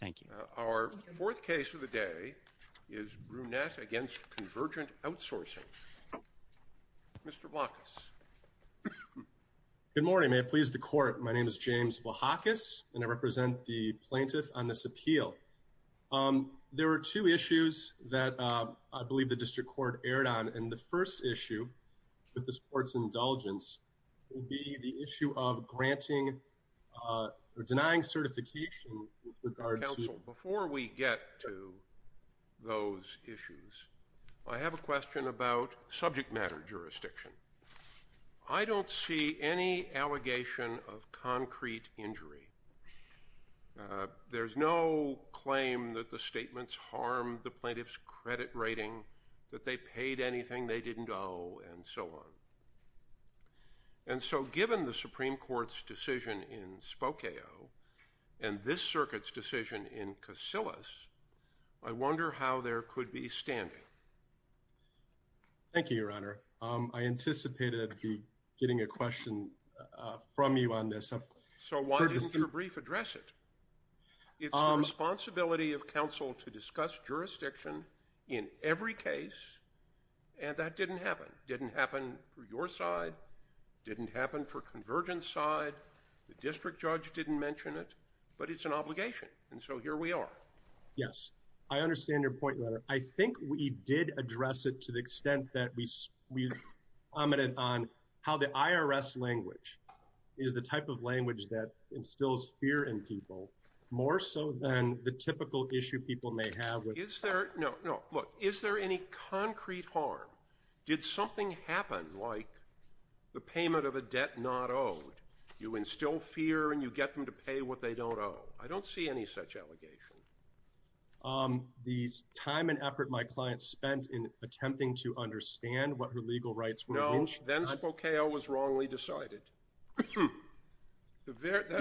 Thank you. Our fourth case of the day is Brunette against Convergent Outsourcing. Mr. Vlahakis. Good morning may it please the court my name is James Vlahakis and I represent the plaintiff on this appeal. There are two issues that I believe the district court erred on and the first issue with this court's indulgence will be the issue of granting or denying certification. Before we get to those issues I have a question about subject matter jurisdiction. I don't see any allegation of concrete injury. There's no claim that the statements harmed the plaintiff's credit rating that they paid anything they didn't owe and so on. And so given the Supreme Court's decision in Spokane and this circuit's decision in Casillas I wonder how there could be standing. Thank you your honor. I anticipated getting a question from you on this. So why didn't your brief address it? It's the responsibility of counsel to discuss jurisdiction in every case and that didn't happen. Didn't happen for your side. Didn't happen for Convergent's side. The district judge didn't mention it but it's an obligation and so here we are. Yes I understand your point your honor. I think we did address it to the extent that we commented on how the IRS language is the type of language that instills fear in people more so than the typical issue people may have. Is there no look is there any concrete harm? Did something happen like the payment of a debt not owed you instill fear and you get them to pay what they don't owe? I don't see any such allegation. The time and effort my client spent in attempting to understand what her legal rights were. No then Spokane was wrongly decided. The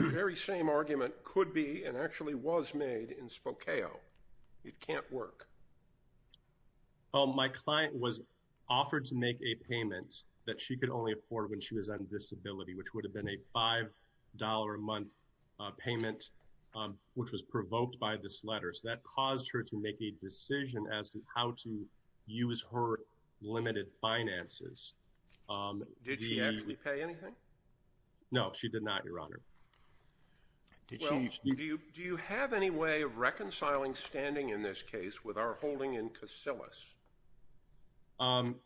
very same argument could be and actually was made in Spokane. It can't work. Oh my client was offered to make a payment that she could only afford when she was on disability which would have been a five dollar a month payment which was provoked by this letter. So that caused her to make a decision as to how to use her limited finances. Did she actually pay anything? No she did not your honor. Do you have any way of reconciling standing in this case with our holding in Casillas?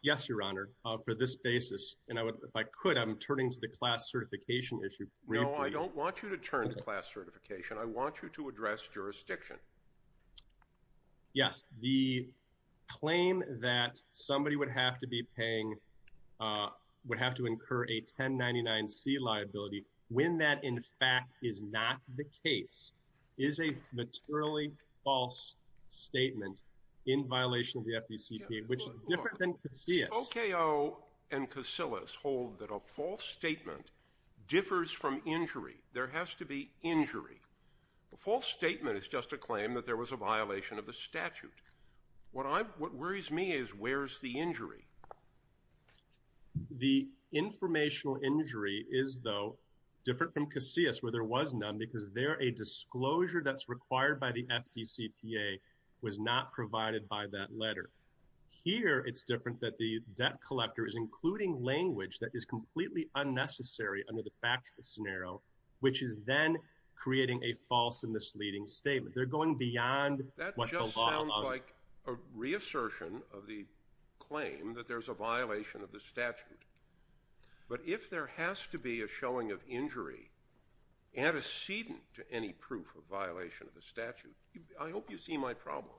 Yes your honor for this basis and I would if I could I'm turning to the class certification issue. No I don't want you to turn to class certification I want you to address jurisdiction. Yes the claim that somebody would have to be paying would have to incur a 1099 C liability when that in fact is not the case is a materially false statement in violation of the FDCPA which is different than Casillas. OKO and Casillas hold that a false statement differs from injury there has to be injury. The false statement is just a claim that there was a violation of the statute. What I'm what worries me is where's the injury? The informational injury is though different from Casillas where there was none because they're a disclosure that's required by the FDCPA was not provided by that letter. Here it's different that the debt collector is including language that is completely unnecessary under the factual scenario which is then creating a false and misleading statement. They're going beyond. That just sounds like a reassertion of the claim that there's a antecedent to any proof of violation of the statute. I hope you see my problem.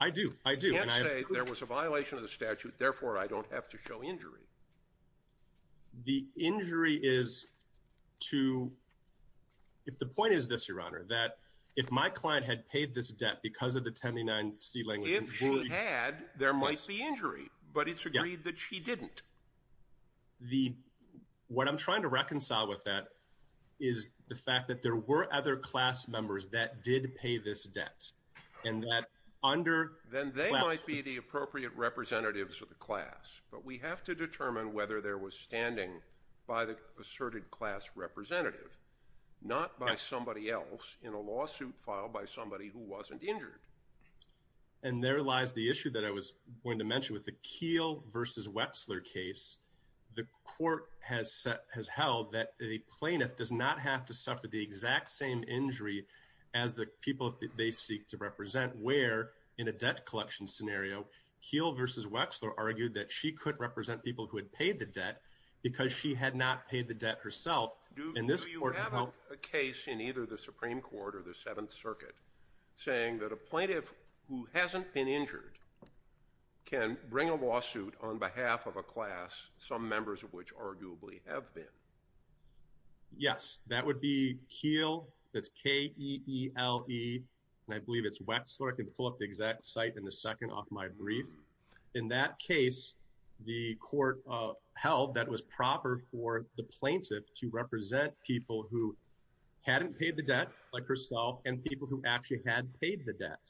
I do I do. You can't say there was a violation of the statute therefore I don't have to show injury. The injury is to if the point is this your honor that if my client had paid this debt because of the 1099 C language. If she had there might be injury but it's agreed that she didn't. The what I'm trying to reconcile with that is the fact that there were other class members that did pay this debt and that under. Then they might be the appropriate representatives of the class but we have to determine whether there was standing by the asserted class representative not by somebody else in a lawsuit filed by somebody who wasn't injured. And there lies the issue that I was going to mention with the Keel versus Wexler case. The court has set has held that a plaintiff does not have to suffer the exact same injury as the people that they seek to represent where in a debt collection scenario Keel versus Wexler argued that she could represent people who had paid the debt because she had not paid the debt herself. Do you have a case in either the Supreme Court or the Seventh Circuit saying that a plaintiff who hasn't been injured can bring a lawsuit on behalf of a class some members of which arguably have been. Yes that would be Keel that's K-E-E-L-E and I believe it's Wexler I can pull up the exact site in a second off my brief. In that case the court held that was proper for the plaintiff to actually had paid the debt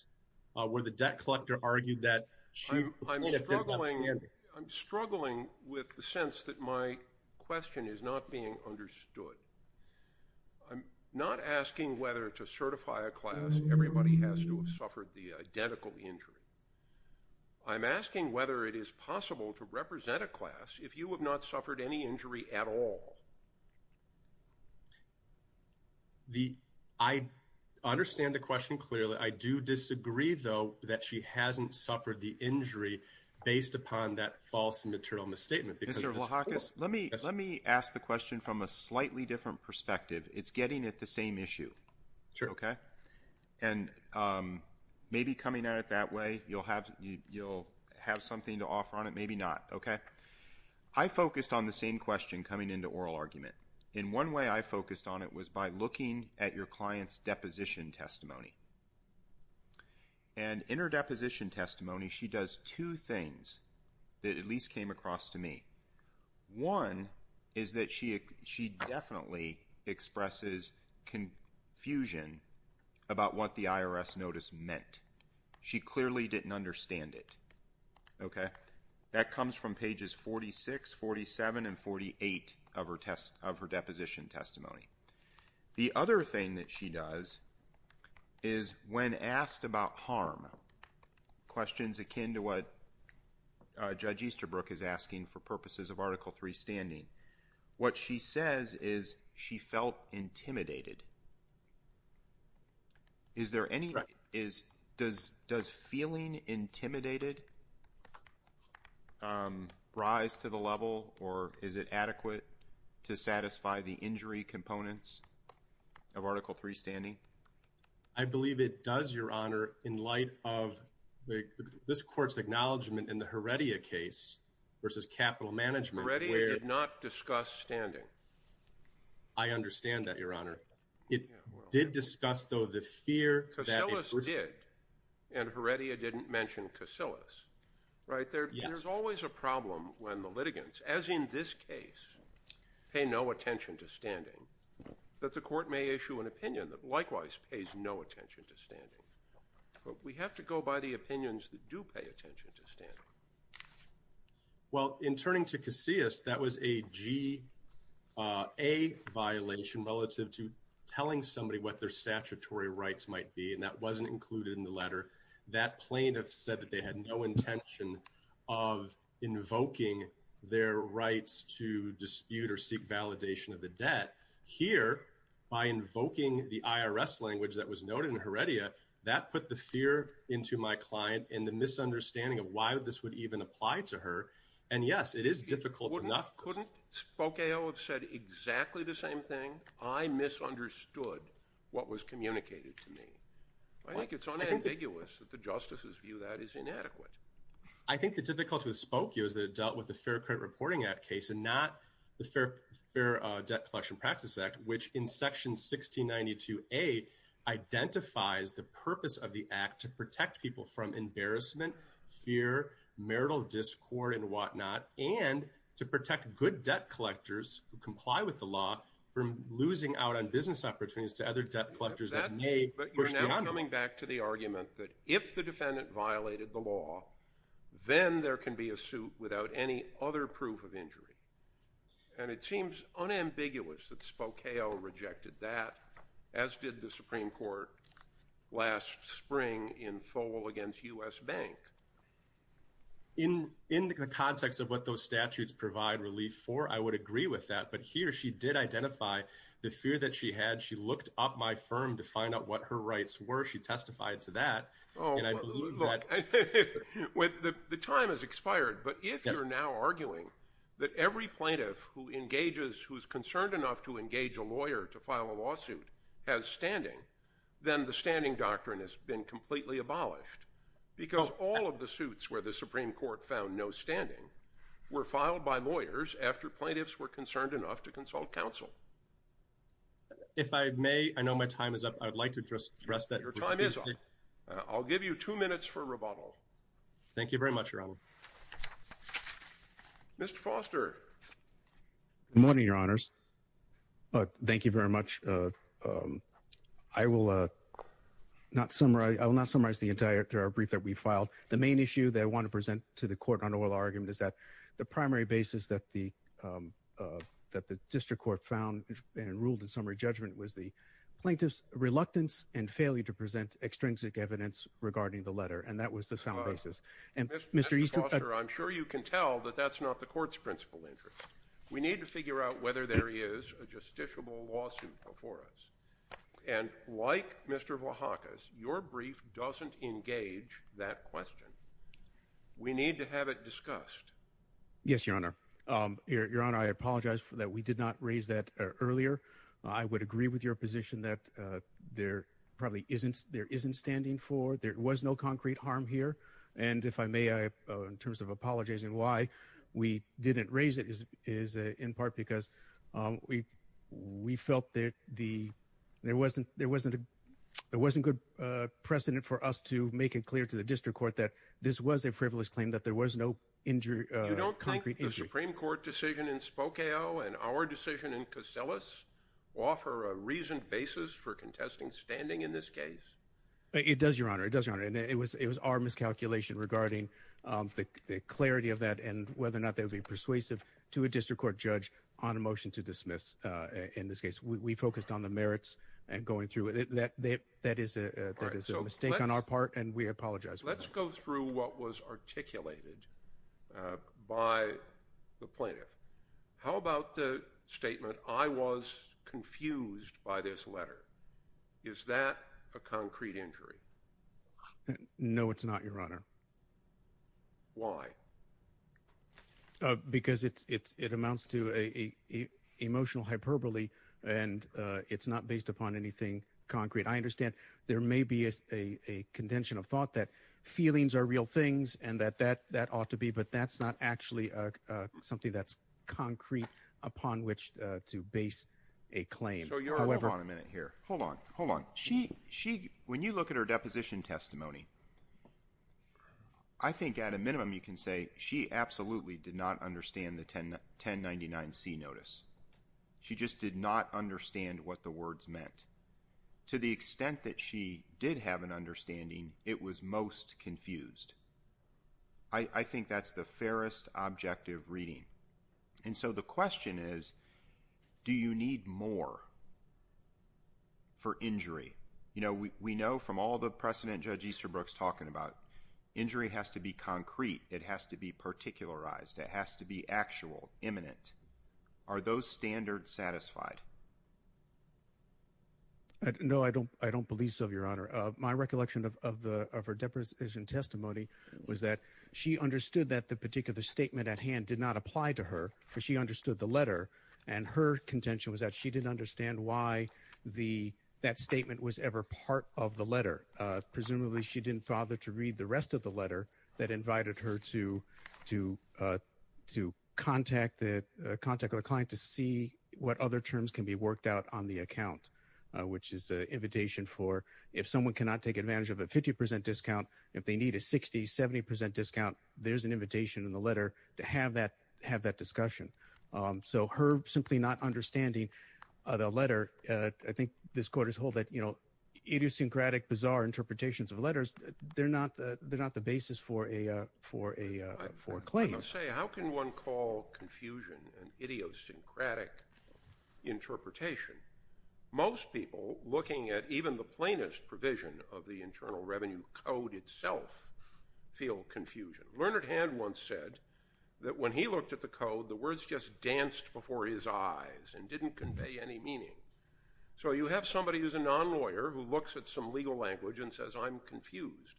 where the debt collector argued that I'm struggling with the sense that my question is not being understood. I'm not asking whether to certify a class everybody has to have suffered the identical injury. I'm asking whether it is possible to represent a class if you have not suffered any I do disagree though that she hasn't suffered the injury based upon that false and material misstatement. Mr. Vlahakis let me let me ask the question from a slightly different perspective it's getting at the same issue. Sure. Okay and maybe coming at it that way you'll have you'll have something to offer on it maybe not okay. I focused on the same question coming into oral argument in one way I and in her deposition testimony she does two things that at least came across to me. One is that she she definitely expresses confusion about what the IRS notice meant. She clearly didn't understand it. That comes from pages 46 47 and 48 of her test of her deposition testimony. The other thing that she does is when asked about harm questions akin to what Judge Easterbrook is asking for purposes of article 3 standing what she says is she felt intimidated. Is there any right is does does feeling intimidated rise to the level or is it I believe it does your honor in light of this court's acknowledgment in the Heredia case versus capital management. Heredia did not discuss standing. I understand that your honor. It did discuss though the fear. Casillas did and Heredia didn't mention Casillas right there there's always a problem when the litigants as in this case pay no attention to standing that the court may issue an opinion that likewise pays no attention to standing. We have to go by the opinions that do pay attention to standing. Well in turning to Casillas that was a GA violation relative to telling somebody what their statutory rights might be and that wasn't included in the letter. That plaintiff said that they had no intention of invoking their rights to dispute or seek validation of the debt. Here by invoking the IRS language that was noted in Heredia that put the fear into my client in the misunderstanding of why this would even apply to her and yes it is difficult enough. Couldn't Spokio have said exactly the same thing? I misunderstood what was communicated to me. I think it's unambiguous that the justices view that is inadequate. I think the difficulty with Spokio is that it dealt with the Fair Credit Reporting Act case and not the Fair Debt Collection Practice Act which in section 1692A identifies the purpose of the act to protect people from embarrassment, fear, marital discord and whatnot and to protect good debt collectors who comply with the law from losing out on business opportunities to other debt collectors that may push the argument. But you're now coming back to the argument that if the defendant violated the law then there can be a suit without any other proof of injury and it seems unambiguous that Spokio rejected that as did the Supreme Court last spring in Foal against US Bank. In the context of what those statutes provide relief for I would agree with that but here she did identify the fear that she had. She looked up my firm to find out what her rights were. She testified to that and I think the time has expired but if you're now arguing that every plaintiff who engages who's concerned enough to engage a lawyer to file a lawsuit has standing then the standing doctrine has been completely abolished because all of the suits where the Supreme Court found no standing were filed by lawyers after plaintiffs were concerned enough to consult counsel. If I may I know my time is up I'd like to address that. Your time is up. I'll give you two minutes for rebuttal. Thank you very much, Your Honor. Mr. Foster. Good morning, Your Honors. Thank you very much. I will not summarize the entire brief that we filed. The main issue that I want to present to the court on oral argument is that the primary basis that the that the district court found and ruled in summary judgment was the plaintiff's reluctance and failure to present extrinsic evidence regarding the letter and that was the sound basis and Mr. Foster I'm sure you can tell that that's not the court's principal interest. We need to figure out whether there is a justiciable lawsuit before us and like Mr. Vlahakis your brief doesn't engage that question. We need to have it discussed. Yes, Your Honor. Your Honor, I apologize for that we did not raise that earlier. I would agree with your position that there probably isn't there isn't standing for there was no concrete harm here and if I may I in terms of apologizing why we didn't raise it is is in part because we we felt that the there wasn't there wasn't a there wasn't good precedent for us to make it clear to the district court that this was a frivolous claim that there was no injury. You don't think the Supreme Court decision in Spokane and our decision in this case? It does, Your Honor. It does, Your Honor, and it was it was our miscalculation regarding the clarity of that and whether or not they would be persuasive to a district court judge on a motion to dismiss in this case. We focused on the merits and going through it that that is a mistake on our part and we apologize. Let's go through what was articulated by the plaintiff. How is that a concrete injury? No, it's not, Your Honor. Why? Because it's it's it amounts to a emotional hyperbole and it's not based upon anything concrete. I understand there may be a contention of thought that feelings are real things and that that that ought to be but that's not actually something that's So, Your Honor, hold on a minute here. Hold on. Hold on. She she when you look at her deposition testimony, I think at a minimum you can say she absolutely did not understand the 1099-C notice. She just did not understand what the words meant. To the extent that she did have an understanding, it was most confused. I think that's the fairest objective reading and so the question is do you need more for injury? You know, we know from all the precedent Judge Easterbrook's talking about, injury has to be concrete. It has to be particularized. It has to be actual, imminent. Are those standards satisfied? No, I don't I don't believe so, Your Honor. My recollection of her deposition testimony was that she understood that the particular statement at hand did not apply to her because she understood the letter and her contention was that she didn't understand why the that statement was ever part of the letter. Presumably, she didn't bother to read the rest of the letter that invited her to to to contact the contact of a client to see what other terms can be worked out on the account, which is an invitation for if someone cannot take advantage of a 50% discount, if they need a 60, 70% discount, there's an invitation in the letter to have that have that discussion. So her simply not understanding the letter, I think this court is hold that, you know, idiosyncratic, bizarre interpretations of letters, they're not they're not the basis for a for a for a claim. How can one call confusion an idiosyncratic interpretation? Most people looking at even the plainest provision of the Learned Hand once said that when he looked at the code, the words just danced before his eyes and didn't convey any meaning. So you have somebody who's a non-lawyer who looks at some legal language and says, I'm confused.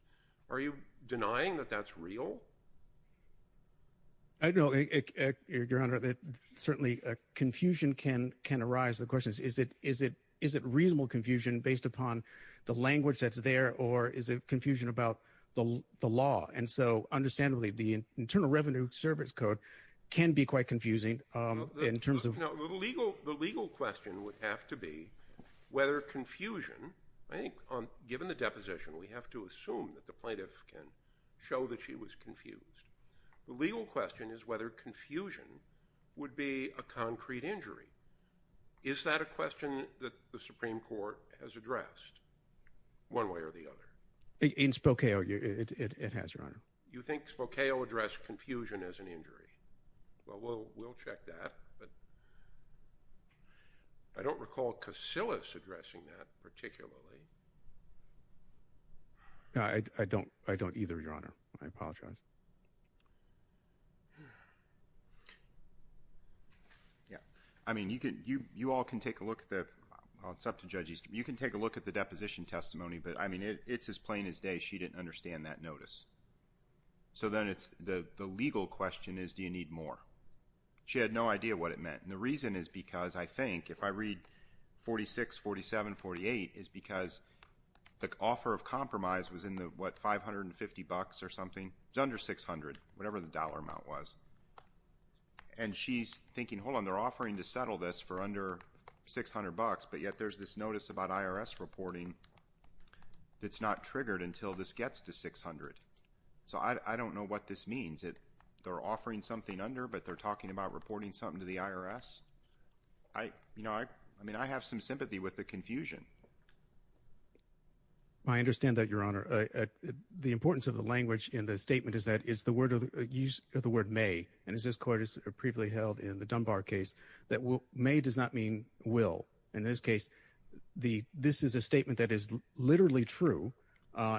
Are you denying that that's real? I know, Your Honor, that certainly confusion can can arise. The question is, is it is it is it reasonable confusion based upon the the Internal Revenue Service Code can be quite confusing in terms of legal the legal question would have to be whether confusion I think on given the deposition we have to assume that the plaintiff can show that she was confused. The legal question is whether confusion would be a concrete injury. Is that a question that the Supreme Court has addressed one way or the other? In Spokeo addressed confusion as an injury. Well, we'll check that, but I don't recall Casillas addressing that particularly. I don't I don't either, Your Honor. I apologize. Yeah, I mean you can you you all can take a look at that. It's up to judges. You can take a look at the deposition testimony, but I mean it's as plain as day. She didn't understand that notice. So then it's the the legal question is, do you need more? She had no idea what it meant. And the reason is because I think if I read 46, 47, 48 is because the offer of compromise was in the what 550 bucks or something. It's under 600, whatever the dollar amount was. And she's thinking, hold on, they're offering to settle this for under 600 bucks, but yet there's this notice about IRS reporting that's not triggered until this gets to 600. So I don't know what this means. They're offering something under, but they're talking about reporting something to the IRS. I, you know, I mean I have some sympathy with the confusion. I understand that, Your Honor. The importance of the language in the statement is that it's the word of the use of the word may and is this court is previously held in the not mean will. In this case, the this is a statement that is literally true.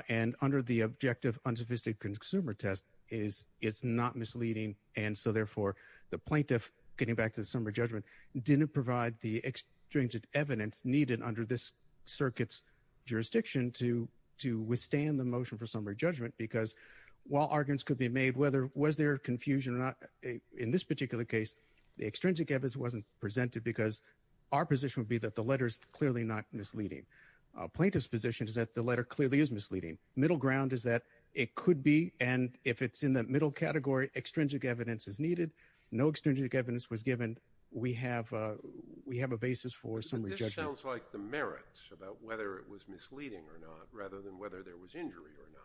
And under the objective unsophisticated consumer test is it's not misleading. And so therefore the plaintiff getting back to the summary judgment didn't provide the extrinsic evidence needed under this circuit's jurisdiction to to withstand the motion for summary judgment. Because while arguments could be made, whether was there confusion or not in this particular case, the our position would be that the letter is clearly not misleading. Plaintiff's position is that the letter clearly is misleading. Middle ground is that it could be and if it's in the middle category, extrinsic evidence is needed. No extrinsic evidence was given. We have we have a basis for summary judgment. But this sounds like the merits about whether it was misleading or not rather than whether there was injury or not.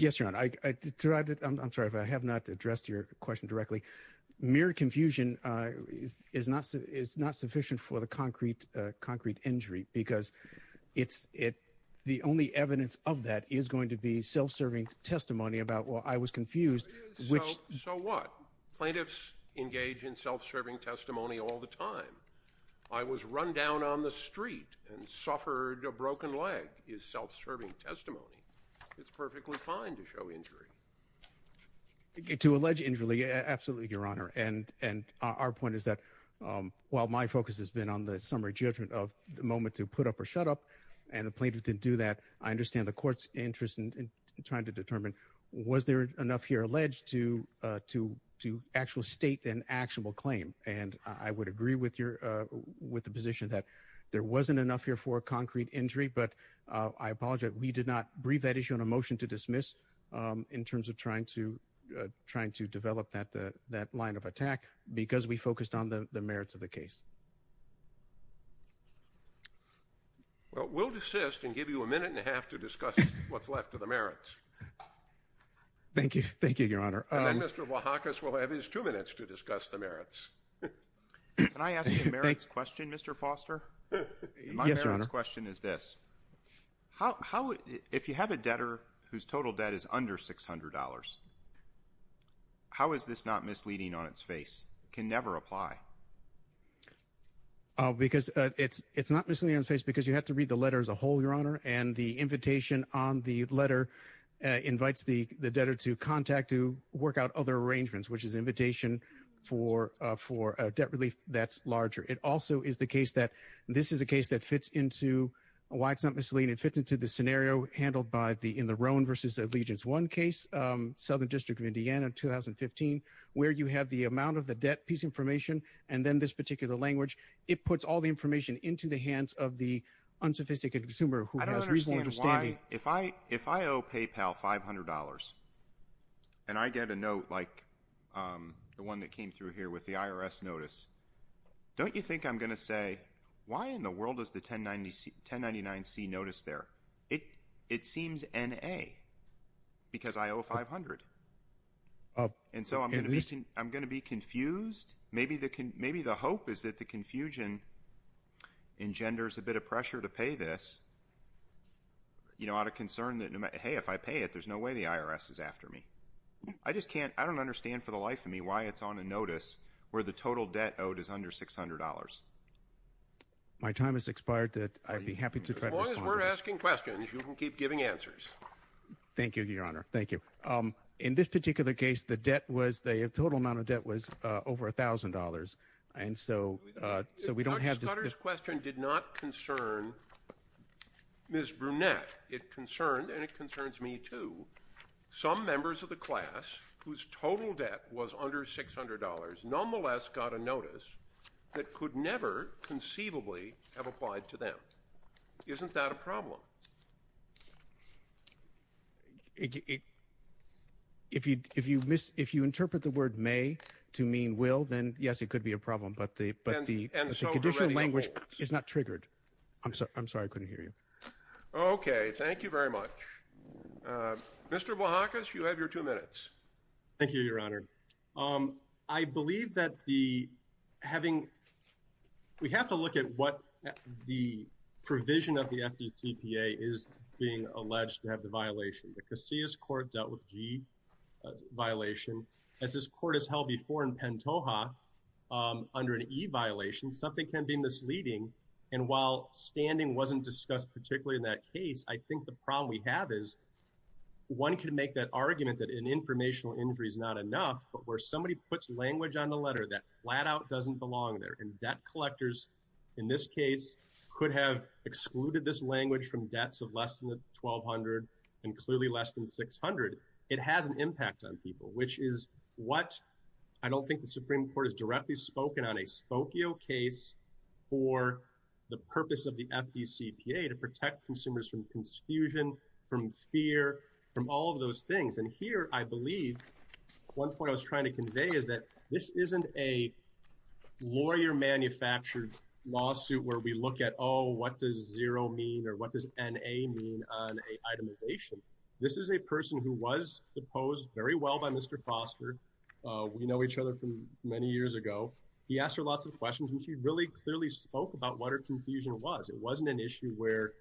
Yes, Your Honor. I tried to, I'm sorry if I have not addressed your question directly. Mere confusion is not sufficient for the concrete concrete injury because it's it the only evidence of that is going to be self-serving testimony about well I was confused. So what? Plaintiffs engage in self-serving testimony all the time. I was run down on the street and suffered a broken leg is self-serving testimony. It's perfectly fine to show injury. To allege injury, absolutely, Your Honor. And and our point is that while my focus has been on the summary judgment of the moment to put up or shut up and the plaintiff didn't do that, I understand the court's interest in trying to determine was there enough here alleged to to to actual state an actionable claim and I would agree with your with the position that there wasn't enough here for a concrete injury but I apologize we did not brief that issue on a motion to dismiss in terms of trying to trying to develop that that line of attack because we focused on the merits of the case. Well we'll desist and give you a minute and a half to discuss what's left of the merits. Thank you, thank you, Your Honor. And then Mr. Wahakis will have his two minutes to discuss the merits. Can I ask you a merits question, Mr. Foster? My merits question is this. How if you have a debtor whose total debt is under $600, how is this not misleading on its face, can never apply? Because it's it's not misleading on its face because you have to read the letter as a whole, Your Honor, and the invitation on the letter invites the the debtor to contact to work out other arrangements which is invitation for for a debt relief that's larger. It also is the case that this is a case that fits into why it's not misleading. It fits into the scenario handled by the in the Roan versus Allegiance One case, Southern District of Indiana, 2015, where you have the amount of the debt piece information and then this particular language. It puts all the information into the hands of the unsophisticated consumer who has reasonable understanding. I don't understand why, if I if I owe PayPal $500 and I get a note like the one that came through here with the IRS notice, don't you think I'm gonna say, why in the world is the 1099-C notice there? It it seems N.A. because I owe $500. And so I'm gonna be confused. Maybe the hope is that the confusion engenders a bit of pressure to pay this, you know, out of concern that, hey, if I pay it there's no way the IRS is after me. I just can't, I don't understand for the life of me why it's on a notice where the total debt owed is under $600. My time has expired that I'd be happy to try to respond. As long as we're asking questions, you can keep giving answers. Thank you, Your Honor. Thank you. In this particular case, the debt was, the total amount of debt was over $1,000. And so so we don't have this. Dr. Scudder's question did not concern Ms. Brunette. It concerned, and it concerns me too, some members of the class whose total debt was under $600, nonetheless got a notice that could never conceivably have applied to them. Isn't that a problem? If you miss, if you interpret the word may to mean will, then yes, it could be a problem. But the conditional language is not triggered. I'm sorry, I'm sorry I couldn't hear you. Okay, thank you very much. Mr. Vlahakis, you have your two minutes. Thank you, Your Honor. I believe that the, having, we have to look at what the provision of the FDTPA is being alleged to have the violation. The Casillas Court dealt with G violation. As this court has held before in Pantoja under an E violation, something can be misleading. And while standing wasn't discussed particularly in that case, I think the problem we have is one can make that injury is not enough, but where somebody puts language on the letter that flat out doesn't belong there. And debt collectors, in this case, could have excluded this language from debts of less than $1,200 and clearly less than $600. It has an impact on people, which is what I don't think the Supreme Court has directly spoken on. A Spokio case for the purpose of the FDCPA to protect consumers from confusion, from fear, from all of those things. And here I believe one point I was trying to convey is that this isn't a lawyer-manufactured lawsuit where we look at, oh, what does zero mean or what does NA mean on an itemization. This is a person who was deposed very well by Mr. Foster. We know each other from many years ago. He asked her lots of questions and she really clearly spoke about what her confusion was. It wasn't an issue where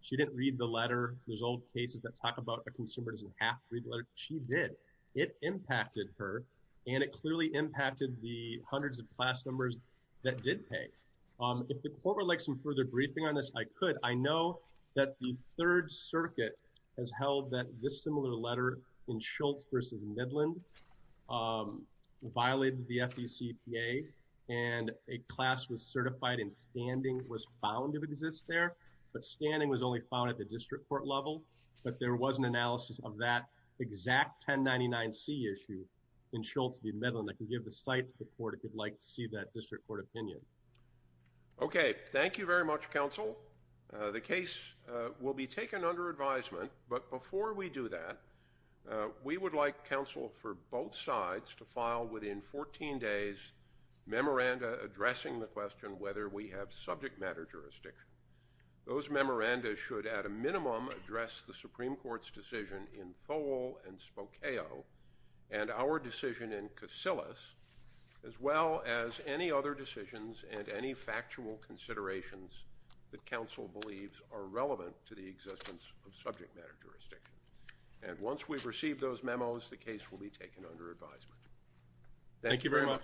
she didn't read the letter. There's old cases that talk about a consumer doesn't half read the letter. She did. It impacted her and it clearly impacted the hundreds of class numbers that did pay. If the court would like some further briefing on this, I could. I know that the Third Circuit has held that this similar letter in Schultz versus Midland violated the FDCPA and a class was certified and standing was found to exist there. But standing was only found at the district court level. But there was an analysis of that exact 1099C issue in Schultz v. Midland. I can give the site to the court if you'd like to see that district court opinion. Okay, thank you very much, counsel. The case will be taken under advisement, but before we do that, we would like counsel for both sides to file within 14 days memoranda addressing the question whether we have subject matter jurisdiction. Those decisions are relevant to the existence of subject matter jurisdiction. And once we've received those memos, the case will be taken under advisement. Thank you very much.